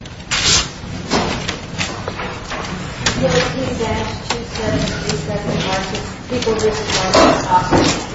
17-77 people get off. The. Mhm. Yeah. Yeah. Okay. Yeah. Mhm. Yeah. Mhm. Mhm. Mhm. Mhm. Mhm.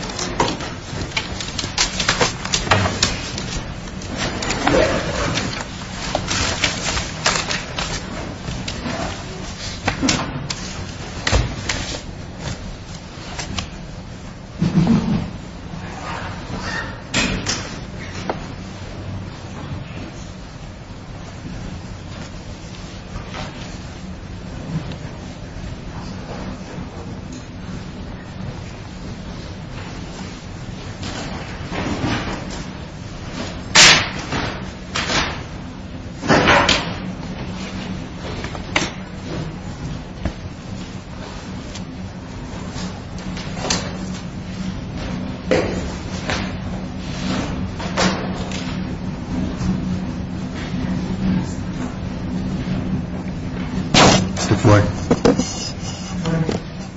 Good boy.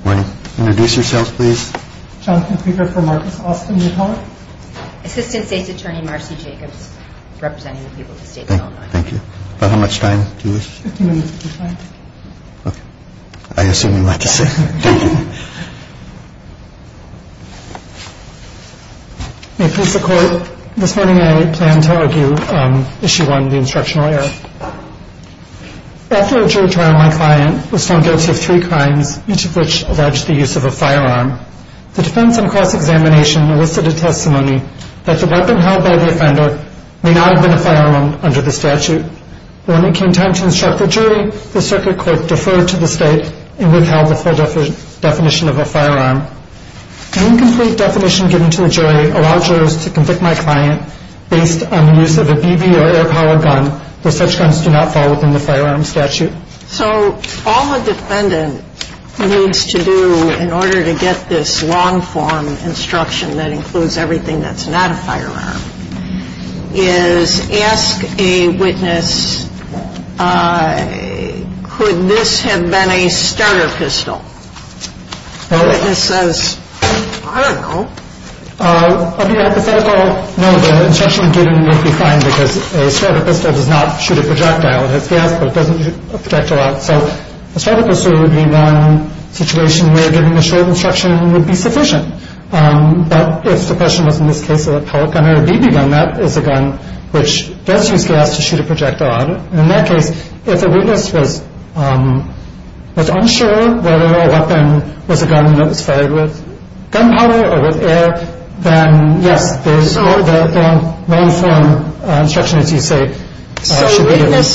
Morning. Introduce yourself, please. Johnson speaker for Marcus Austin. Assistant State's Attorney Marcy Jacobs representing the people of the state. Thank you. How much time do you wish? Okay. I assume you like to say. Mhm. A piece of court this morning. I plan to argue. Um, she won the instructional error. After a jury trial, my client was found guilty of three crimes, each of which alleged the use of a firearm. The defense and cross examination elicited testimony that the weapon held by the offender may not have been a firearm under the statute. When it came time to instruct the jury, the circuit court deferred to the state and withheld the full definition of a firearm. Incomplete definition given to the jury allowed jurors to convict my client based on the use of a BB or air power gun. The such guns do not fall within the firearm statute. So all the defendant needs to do in order to get this long form instruction that includes everything that's not a firearm is ask a witness. Uh, could this have been a starter pistol? Witness says, I don't know. Uh, I'll be a hypothetical. No, the instruction given would be fine because a starter pistol does not shoot a projectile. It has gas, but it doesn't protect a lot. So a starter pistol would be one situation where giving a short instruction would be sufficient. Um, but if the question was in this case of a pellet gun or a BB gun, that is a gun which does use gas to shoot a projectile. And in that case, if a witness was, um, was unsure whether a gun that was fired with gunpowder or with air, then yes, there's a long form instruction, as you say, should be given. So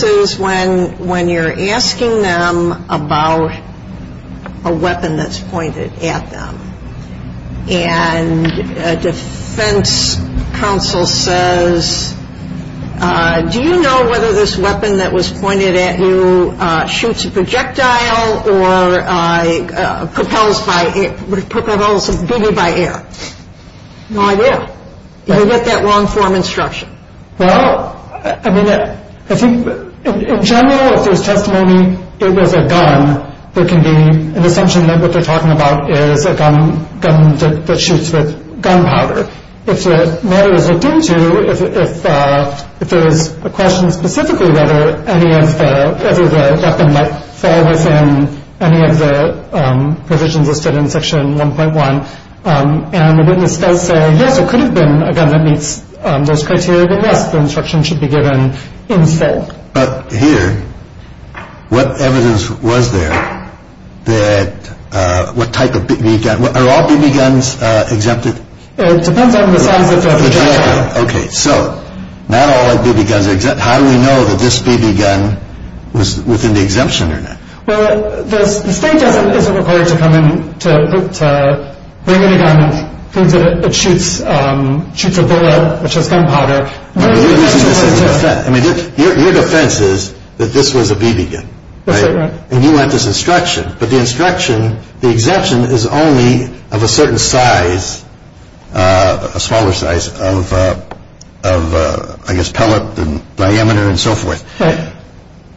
witnesses, when you're asking them about a weapon that's pointed at them, and a defense counsel says, uh, do you know whether this weapon that was pointed at you shoots a projectile or, uh, propels by, propels a BB by air? No idea. You get that long form instruction. Well, I mean, I think in general, if there's testimony it was a gun, there can be an assumption that what they're talking about is a gun, gun that shoots with gunpowder. If the matter is looked at, it doesn't fall within any of the provisions listed in Section 1.1. Um, and the witness does say, yes, it could have been a gun that meets those criteria. But yes, the instruction should be given in full. But here, what evidence was there that, uh, what type of BB gun, are all BB guns exempted? It depends on the size of the projectile. Okay. So not all BB guns are exempt. But how do we know that this BB gun was within the exemption or not? Well, the state doesn't, isn't required to come in to, to bring in a gun and prove that it shoots, um, shoots a bullet which has gunpowder. No, you're using this as a defense. I mean, your defense is that this was a BB gun. Right? And you want this instruction. But the instruction, the exemption is only of a certain size, uh, a smaller size of, uh, of, uh, I am and so forth.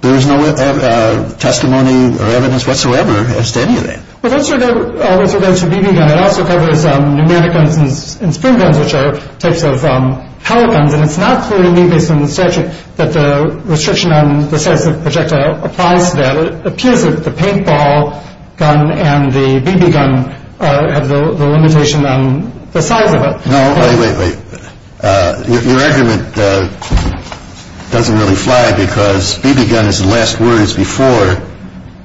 There is no, uh, testimony or evidence whatsoever as to any of that. Well, those are, those are BB guns. It also covers, um, pneumatic guns and spring guns, which are types of, um, pellet guns. And it's not clear to me, based on the statute, that the restriction on the size of the projectile applies to that. It appears that the paintball gun and the BB gun, uh, have the limitation on the size of it. No, wait, wait, wait. Uh, your, your argument, uh, doesn't really fly because BB gun is the last word, it's before,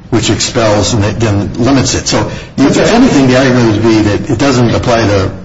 which expels and then, then limits it. So, if there's anything, the argument would be that it doesn't apply to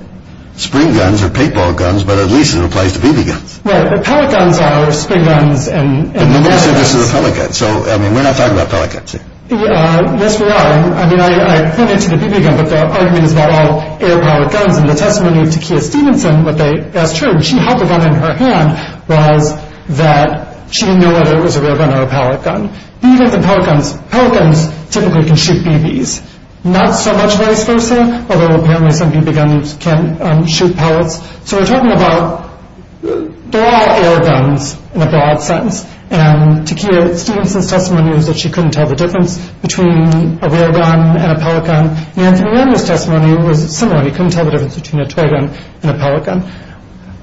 spring guns or paintball guns, but at least it applies to BB guns. Well, the pellet guns are spring guns and, and pneumatic guns. But you said this is a pellet gun. So, I mean, we're not talking about pellet guns here. Uh, yes, we are. I mean, I, I pointed to the BB gun, but the argument is that all air-powered guns, and the testimony of Takiya Stephenson, what they, as true, and she had the gun in her hand, was that she didn't know whether it was a rear gun or a pellet gun. Even the pellet guns, pellet guns typically can shoot BBs. Not so much vice versa, although apparently some BB guns can, um, shoot pellets. So, we're talking about, they're all air guns in a broad sense. And Takiya Stephenson's testimony was that she couldn't tell the difference between a rear gun and a pellet gun. And Kenyanya's testimony was similar. He couldn't tell the difference between a toy gun and a pellet gun.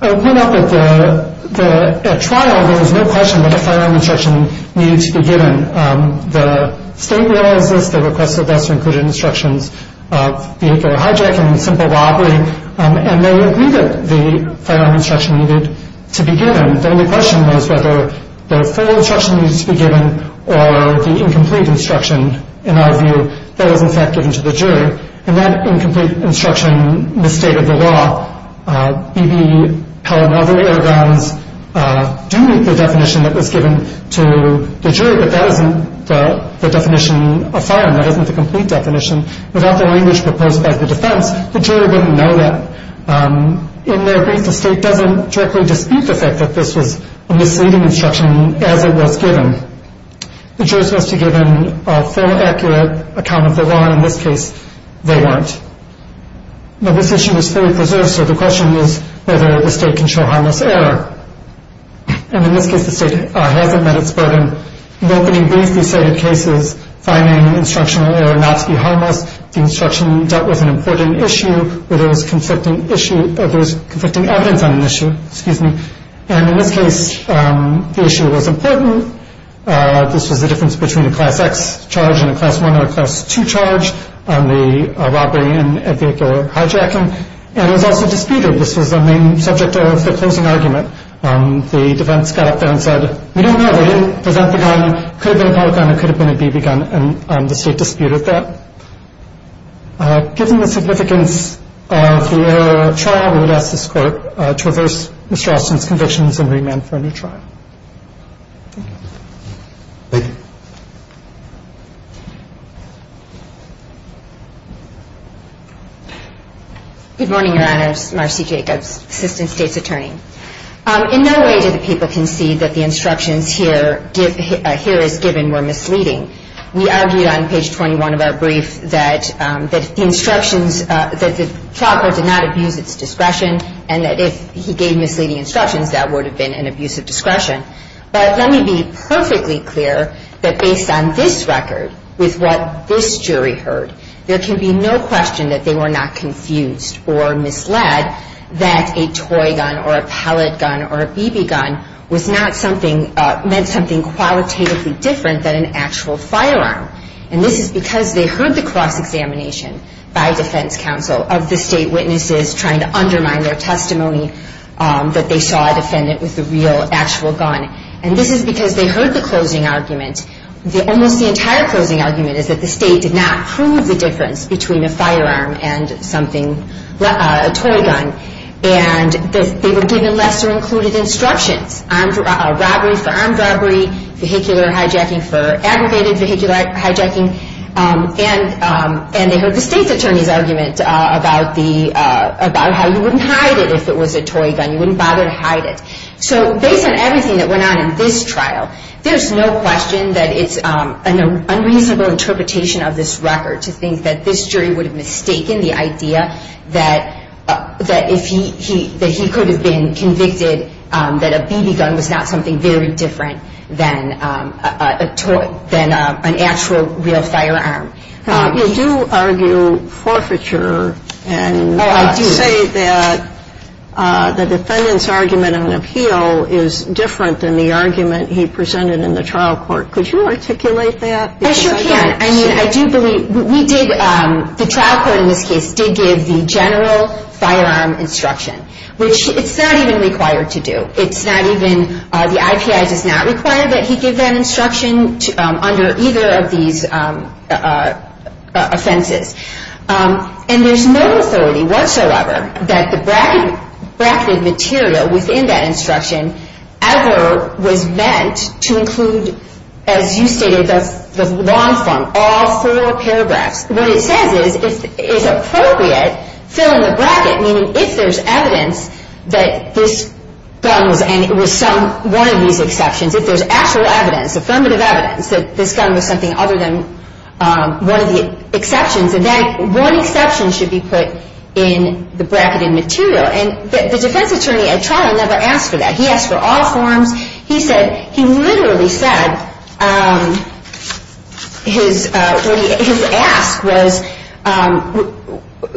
I went up at the, the, at trial, there was no question that a firearm instruction needed to be given. Um, the state realizes this. They requested us to include instructions of vehicular hijacking and simple robbery. Um, and they agreed that the firearm instruction needed to be given. The only question was whether the full instruction needed to be given or the incomplete instruction, in our view, that was, in fact, given to the jury. And that incomplete instruction misstated the law. Uh, BB, pellet, and other air guns, uh, do meet the definition that was given to the jury, but that isn't the, the definition of firearm. That isn't the complete definition. Without the language proposed by the defense, the jury wouldn't know that. Um, in their brief, the state doesn't directly dispute the fact that this was a misleading instruction as it was given. The jury's supposed to give a full, accurate account of the law. In this case, they weren't. Now, this issue is fully preserved, so the question is whether the state can show harmless error. And in this case, the state, uh, hasn't met its burden. In the opening brief, we cited cases finding instructional error not to be harmless. The instruction dealt with an important issue where there was conflicting issue, uh, there was conflicting evidence on an issue, excuse me. And in this case, um, the issue was important. Uh, this was the difference between a class X charge and a class 1 or a class 2 charge on the, uh, robbery and vehicular hijacking. And it was also disputed. This was the main subject of the closing argument. Um, the defense got up there and said, we don't know. They didn't present the gun. Could have been a pellet gun. It could have been a BB gun. And, um, the state disputed that. Uh, given the significance of the, uh, trial, we would ask this court, uh, to reverse Mr. Austin's convictions and remand him for a new trial. Thank you. Thank you. Good morning, Your Honors. Marcy Jacobs, Assistant State's Attorney. Um, in no way did the people concede that the instructions here, uh, here is given were misleading. We argued on page 21 of our brief that, um, that the instructions, uh, that the proctor did not abuse its discretion and that if he gave misleading instructions, that would have been an abusive discretion. But let me be perfectly clear that based on this record, with what this jury heard, there can be no question that they were not confused or misled that a toy gun or a pellet gun or a BB gun was not something, uh, meant something qualitatively different than an actual firearm. And this is because they heard the cross-examination by defense counsel of the state witnesses trying to undermine their testimony, um, that they saw a defendant with a real, actual gun. And this is because they heard the closing argument. Almost the entire closing argument is that the state did not prove the difference between a firearm and something, uh, a toy gun. And they were given lesser included instructions, armed robbery for armed robbery, vehicular hijacking for aggregated vehicular hijacking. Um, and, and they heard the state's attorney's argument, uh, about the, uh, about how you wouldn't hide it if it was a toy gun. You wouldn't bother to hide it. So based on everything that went on in this trial, there's no question that it's, um, an unreasonable interpretation of this record to think that this jury would have mistaken the idea that, uh, that if he, he, that he could have been convicted, um, that a BB gun was not something very different than, um, uh, a toy, than, uh, an actual real firearm. Uh, you do argue forfeiture and, uh, say that, uh, the defendant's argument on appeal is different than the argument he presented in the trial court. Could you articulate that? I sure can. I mean, I do believe we did, um, the trial court in this case did give the general firearm instruction, which it's not even required to do. It's not even, uh, the IPI does not require that he give that instruction, um, under either of these, um, uh, offenses. Um, and there's no authority whatsoever that the bracket, bracketed material within that instruction ever was meant to include, as you stated, the, the long form, all four paragraphs. What it says is, if, if appropriate, fill in the bracket, meaning if there's evidence that this gun was, and it was some, one of these exceptions, if there's actual evidence, affirmative evidence, that this gun was something other than, um, one of the exceptions, and that one exception should be put in the bracketed material. And the defense attorney at trial never asked for that. He asked for all forms. He said, he literally said, um, his, uh, his ask was, um,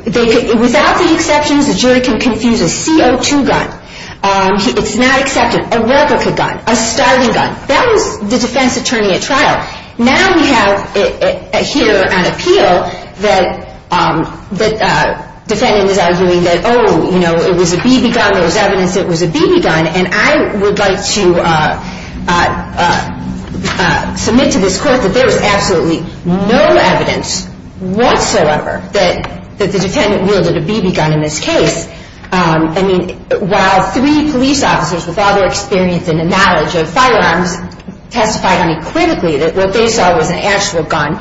they, without the exceptions, the jury can confuse a CO2 gun, um, it's not accepted, a replica gun, a starting gun. That was the defense attorney at trial. Now we have here an appeal that, um, that, uh, defendant is arguing that, oh, you know, it was a BB gun, there was evidence that it was a BB gun, and I would like to, uh, uh, uh, uh, submit to this case that there was no evidence whatsoever that, that the defendant wielded a BB gun in this case. Um, I mean, while three police officers with all their experience and knowledge of firearms testified unequivocally that what they saw was an actual gun,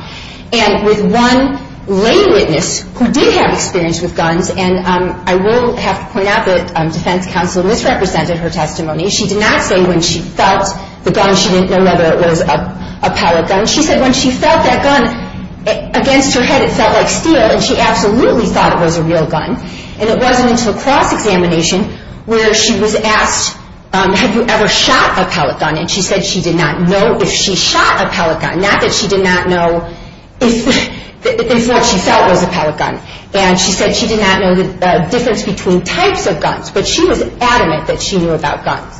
and with one lay witness who did have experience with guns, and, um, I will have to point out that, um, defense counsel misrepresented her testimony. She did not say when she felt the gun, she didn't know whether it was a, a real gun, and she felt that gun against her head, it felt like steel, and she absolutely thought it was a real gun, and it wasn't until cross-examination where she was asked, um, have you ever shot a pellet gun, and she said she did not know if she shot a pellet gun, not that she did not know if, if what she felt was a pellet gun, and she said she did not know the, uh, difference between types of guns, but she was adamant that she knew about guns.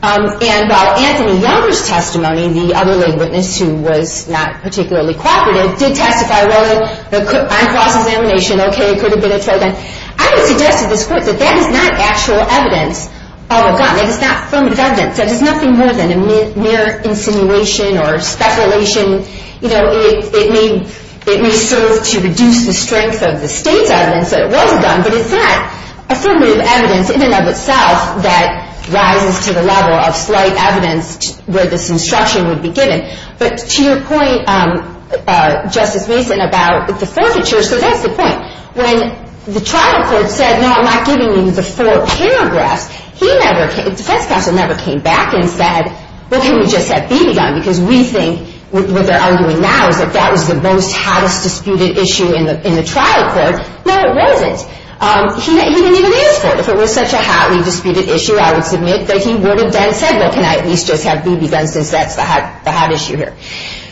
Um, and while Anthony Younger's testimony, the other lay witness who was not particularly cooperative, did testify, well, on cross-examination, okay, it could have been a pellet gun, I would suggest to this court that that is not actual evidence of a gun, that it's not affirmative evidence, that it's nothing more than a mere insinuation or speculation, you know, it, it may, it may serve to reduce the strength of the state's evidence that it was a gun, but it's not affirmative evidence in and of itself that rises to the level of slight evidence where this instruction would be given, but to your point, um, uh, Justice Mason about the forfeiture, so that's the point, when the trial court said, no, I'm not giving you the four paragraphs, he never, the defense counsel never came back and said, well, can we just have BB gun, because we think, what they're arguing now is that that was the most hottest disputed issue in the, in the trial court, no, it wasn't, um, he didn't, he didn't even ask for it, if it was such a hotly disputed issue, I would submit that he would have then said, well, can I at least just have BB gun, since that's the hot, the hot issue here,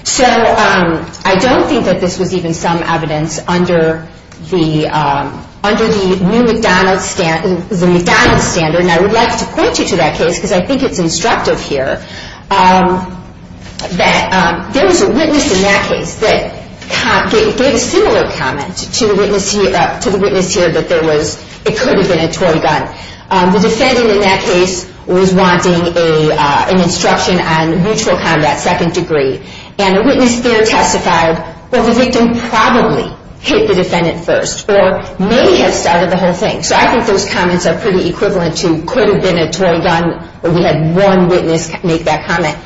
so, um, I don't think that this was even some evidence under the, um, under the new McDonald's standard, the McDonald's standard, and I would like to point you to that case, because I think it's instructive here, um, that, um, there was a witness in that case that gave a similar comment to the witness here, to the witness here, that there was, it could have been a toy gun, um, the defendant in that case was wanting a, uh, an instruction on mutual combat second degree, and the witness there testified, well, the victim probably hit the defendant first, or maybe had started the whole thing, so I think those comments are pretty equivalent to could have been a toy gun, or we had one witness make that comment,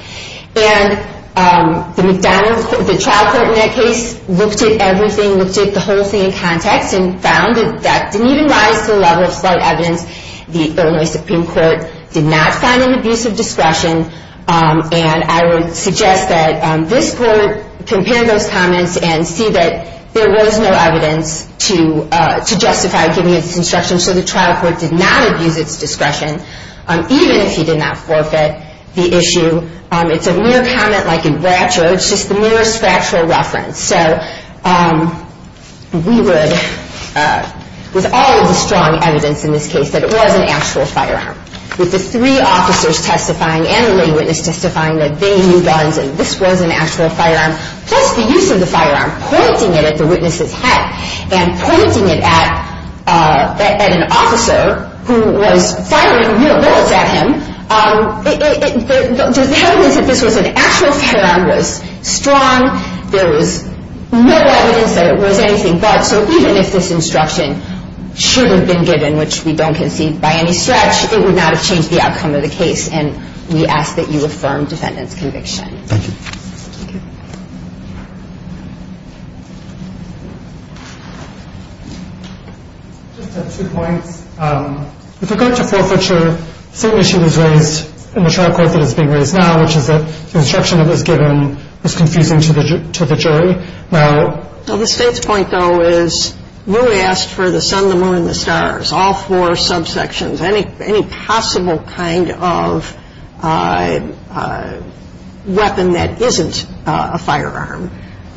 and, um, the McDonald's, the trial court in that case looked at everything, looked at the whole thing in context, and found that that didn't even rise to the level of slight evidence, the Illinois Supreme Court did not find an abuse of discretion, um, and I would suggest that, um, this court compare those comments and see that there was no evidence to, uh, to justify giving this instruction, so the trial court did not abuse its discretion, um, even if he did not forfeit the issue, um, it's a mere comment like in Bracho, it's just a mere factual reference, so, um, we would, uh, with all of the strong evidence in this case that it was an actual firearm, with the three officers testifying and the lay witness testifying that they knew guns and this was an actual firearm, plus the use of the firearm, pointing it at the witness's head, and pointing it at, uh, at an officer who was firing, you know, bullets at him, um, it, it, there's evidence that this was an actual firearm was strong, there was no evidence that it was anything but, so even if this instruction should have been given, which we don't concede by any stretch, it would not have changed the outcome of the case, and we ask that you affirm defendant's conviction. Thank you. Just two points, um, with regard to forfeiture, same issue is raised in the trial court that is being raised now, which is that the argument that was given was confusing to the jury, now... Well, the state's point though is, you asked for the sun, the moon, the stars, all four subsections, any, any possible kind of, uh, uh, weapon that isn't a firearm,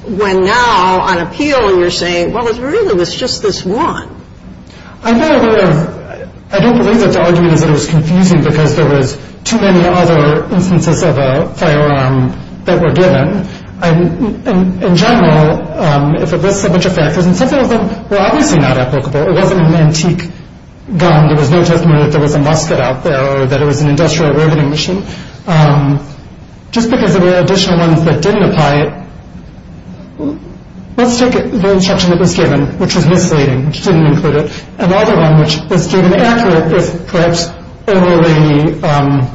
when now on appeal you're saying, well, it really was just this one. I know that, I don't believe that the argument is that it was confusing because there was too many other instances of a firearm that were given, and in general, um, if it lists a bunch of factors, and some of them were obviously not applicable, it wasn't an antique gun, there was no testimony that there was a musket out there or that it was an industrial bargaining machine, um, just because there were additional ones that didn't apply it, let's take the instruction that was given, which was misleading, which didn't include it, and the other one, which is the, um,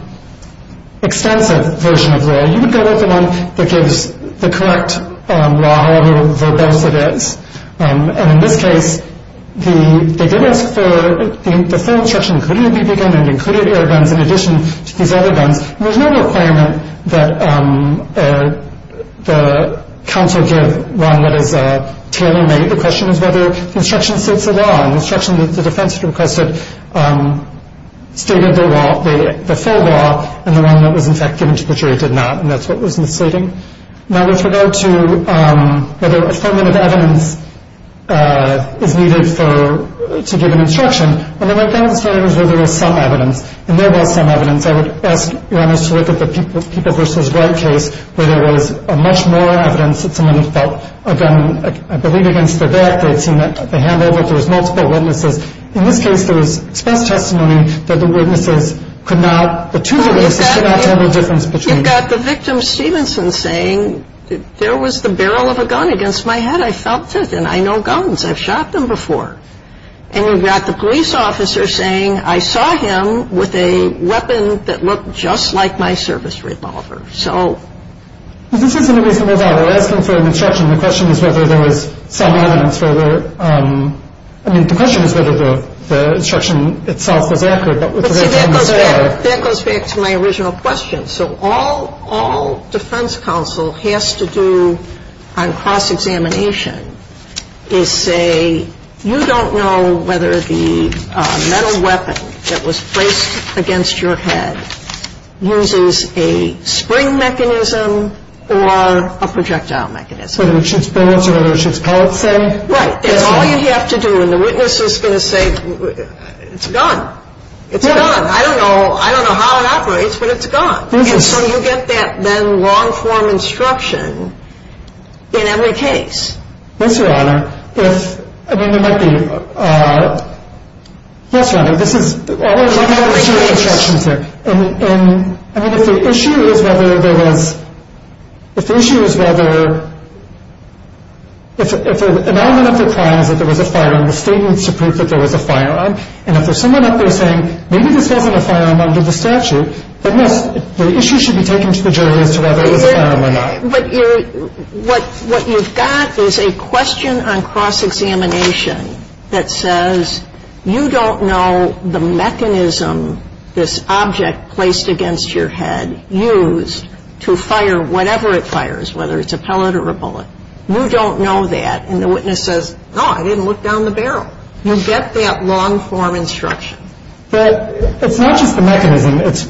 extensive version of law, you would go with the one that gives the correct, um, law, however verbose it is, um, and in this case, the, they did ask for the full instruction, including a PP gun and included air guns in addition to these other guns, and there's no requirement that, um, uh, the counsel give one that is, uh, tailor-made, the question is whether the instruction states the law, and the instruction that the defense requested, um, stated the law, the full law, and the one that was in fact given to the jury did not, and that's what was misleading. Now, with regard to, um, whether affirmative evidence, uh, is needed for, to give an instruction, when I went down to the standings where there was some evidence, and there was some evidence, I would ask your honors to look at the people, people versus right case, where there was a much more evidence that someone felt a gun, I believe against their back, they had a hand over, there was multiple witnesses, in this case, there was express testimony that the witnesses could not, the two witnesses could not tell the difference between, you've got the victim Stevenson saying there was the barrel of a gun against my head, I felt it, and I know guns, I've shot them before, and you've got the police officer saying I saw him with a weapon that looked just like my service revolver, so, this isn't a reasonable doubt, they're asking for an instruction, the question is whether there was some evidence, whether, um, I mean, the question is whether the instruction itself was accurate, but with regard to the gun there. That goes back to my original question, so all, all defense counsel has to do on cross-examination is say, you don't know whether the metal weapon that was placed against your head uses a spring mechanism or a projectile mechanism. Whether it shoots bullets or whether it shoots pellets, say. Right, that's all you have to do, and the witness is going to say, it's a gun, it's a gun, I don't know, I don't know how it operates, but it's a gun, and so you get that then long form instruction in every case. Yes, Your Honor, if, I mean, there might be, uh, yes, Your Honor, this is, I have a series of instructions here, and, and, I mean, if the issue is whether there was, if the issue is whether, if, if an element of the crime is that there was a firearm, the State needs to prove that there was a firearm, and if there's someone up there saying, maybe this wasn't a firearm under the statute, then yes, the issue should be taken to the jury as to whether it was a firearm or not. But you're, what, what you've got is a question on cross-examination that says, you don't know the mechanism this object placed against your head used to fire whatever it fires, whether it's a pellet or a bullet. You don't know that. And the witness says, no, I didn't look down the barrel. You get that long form instruction. Well, it's not just the mechanism. It's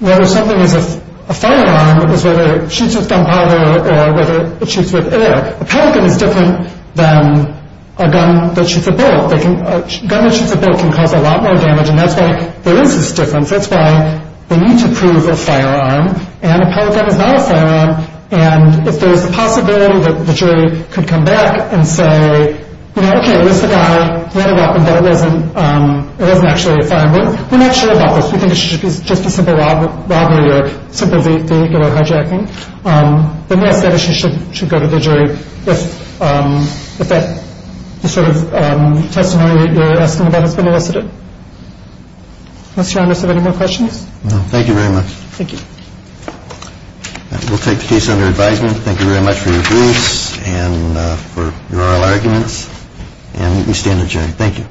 whether something is a firearm is whether it shoots with gunpowder or whether it shoots with air. A pellet gun is different than a gun that shoots a bullet. They can, a gun that shoots a bullet can cause a lot more damage. And that's why there is this difference. That's why they need to prove a firearm and a pellet gun is not a firearm. And if there's a possibility that the jury could come back and say, you know, okay, here's the guy, he had a weapon, but it wasn't, um, it wasn't actually a firearm, we're not sure about this. We think it should be just a simple robbery or simple vehicular hijacking. Um, then yes, that issue should, should go to the jury. If, um, if that sort of, um, testimony you're asking about has been elicited. Mr. Arnas, do you have any more questions? Thank you very much. Thank you. We'll take the case under advisement. Thank you very much for your briefs and for your oral arguments and we stand adjourned. Thank you.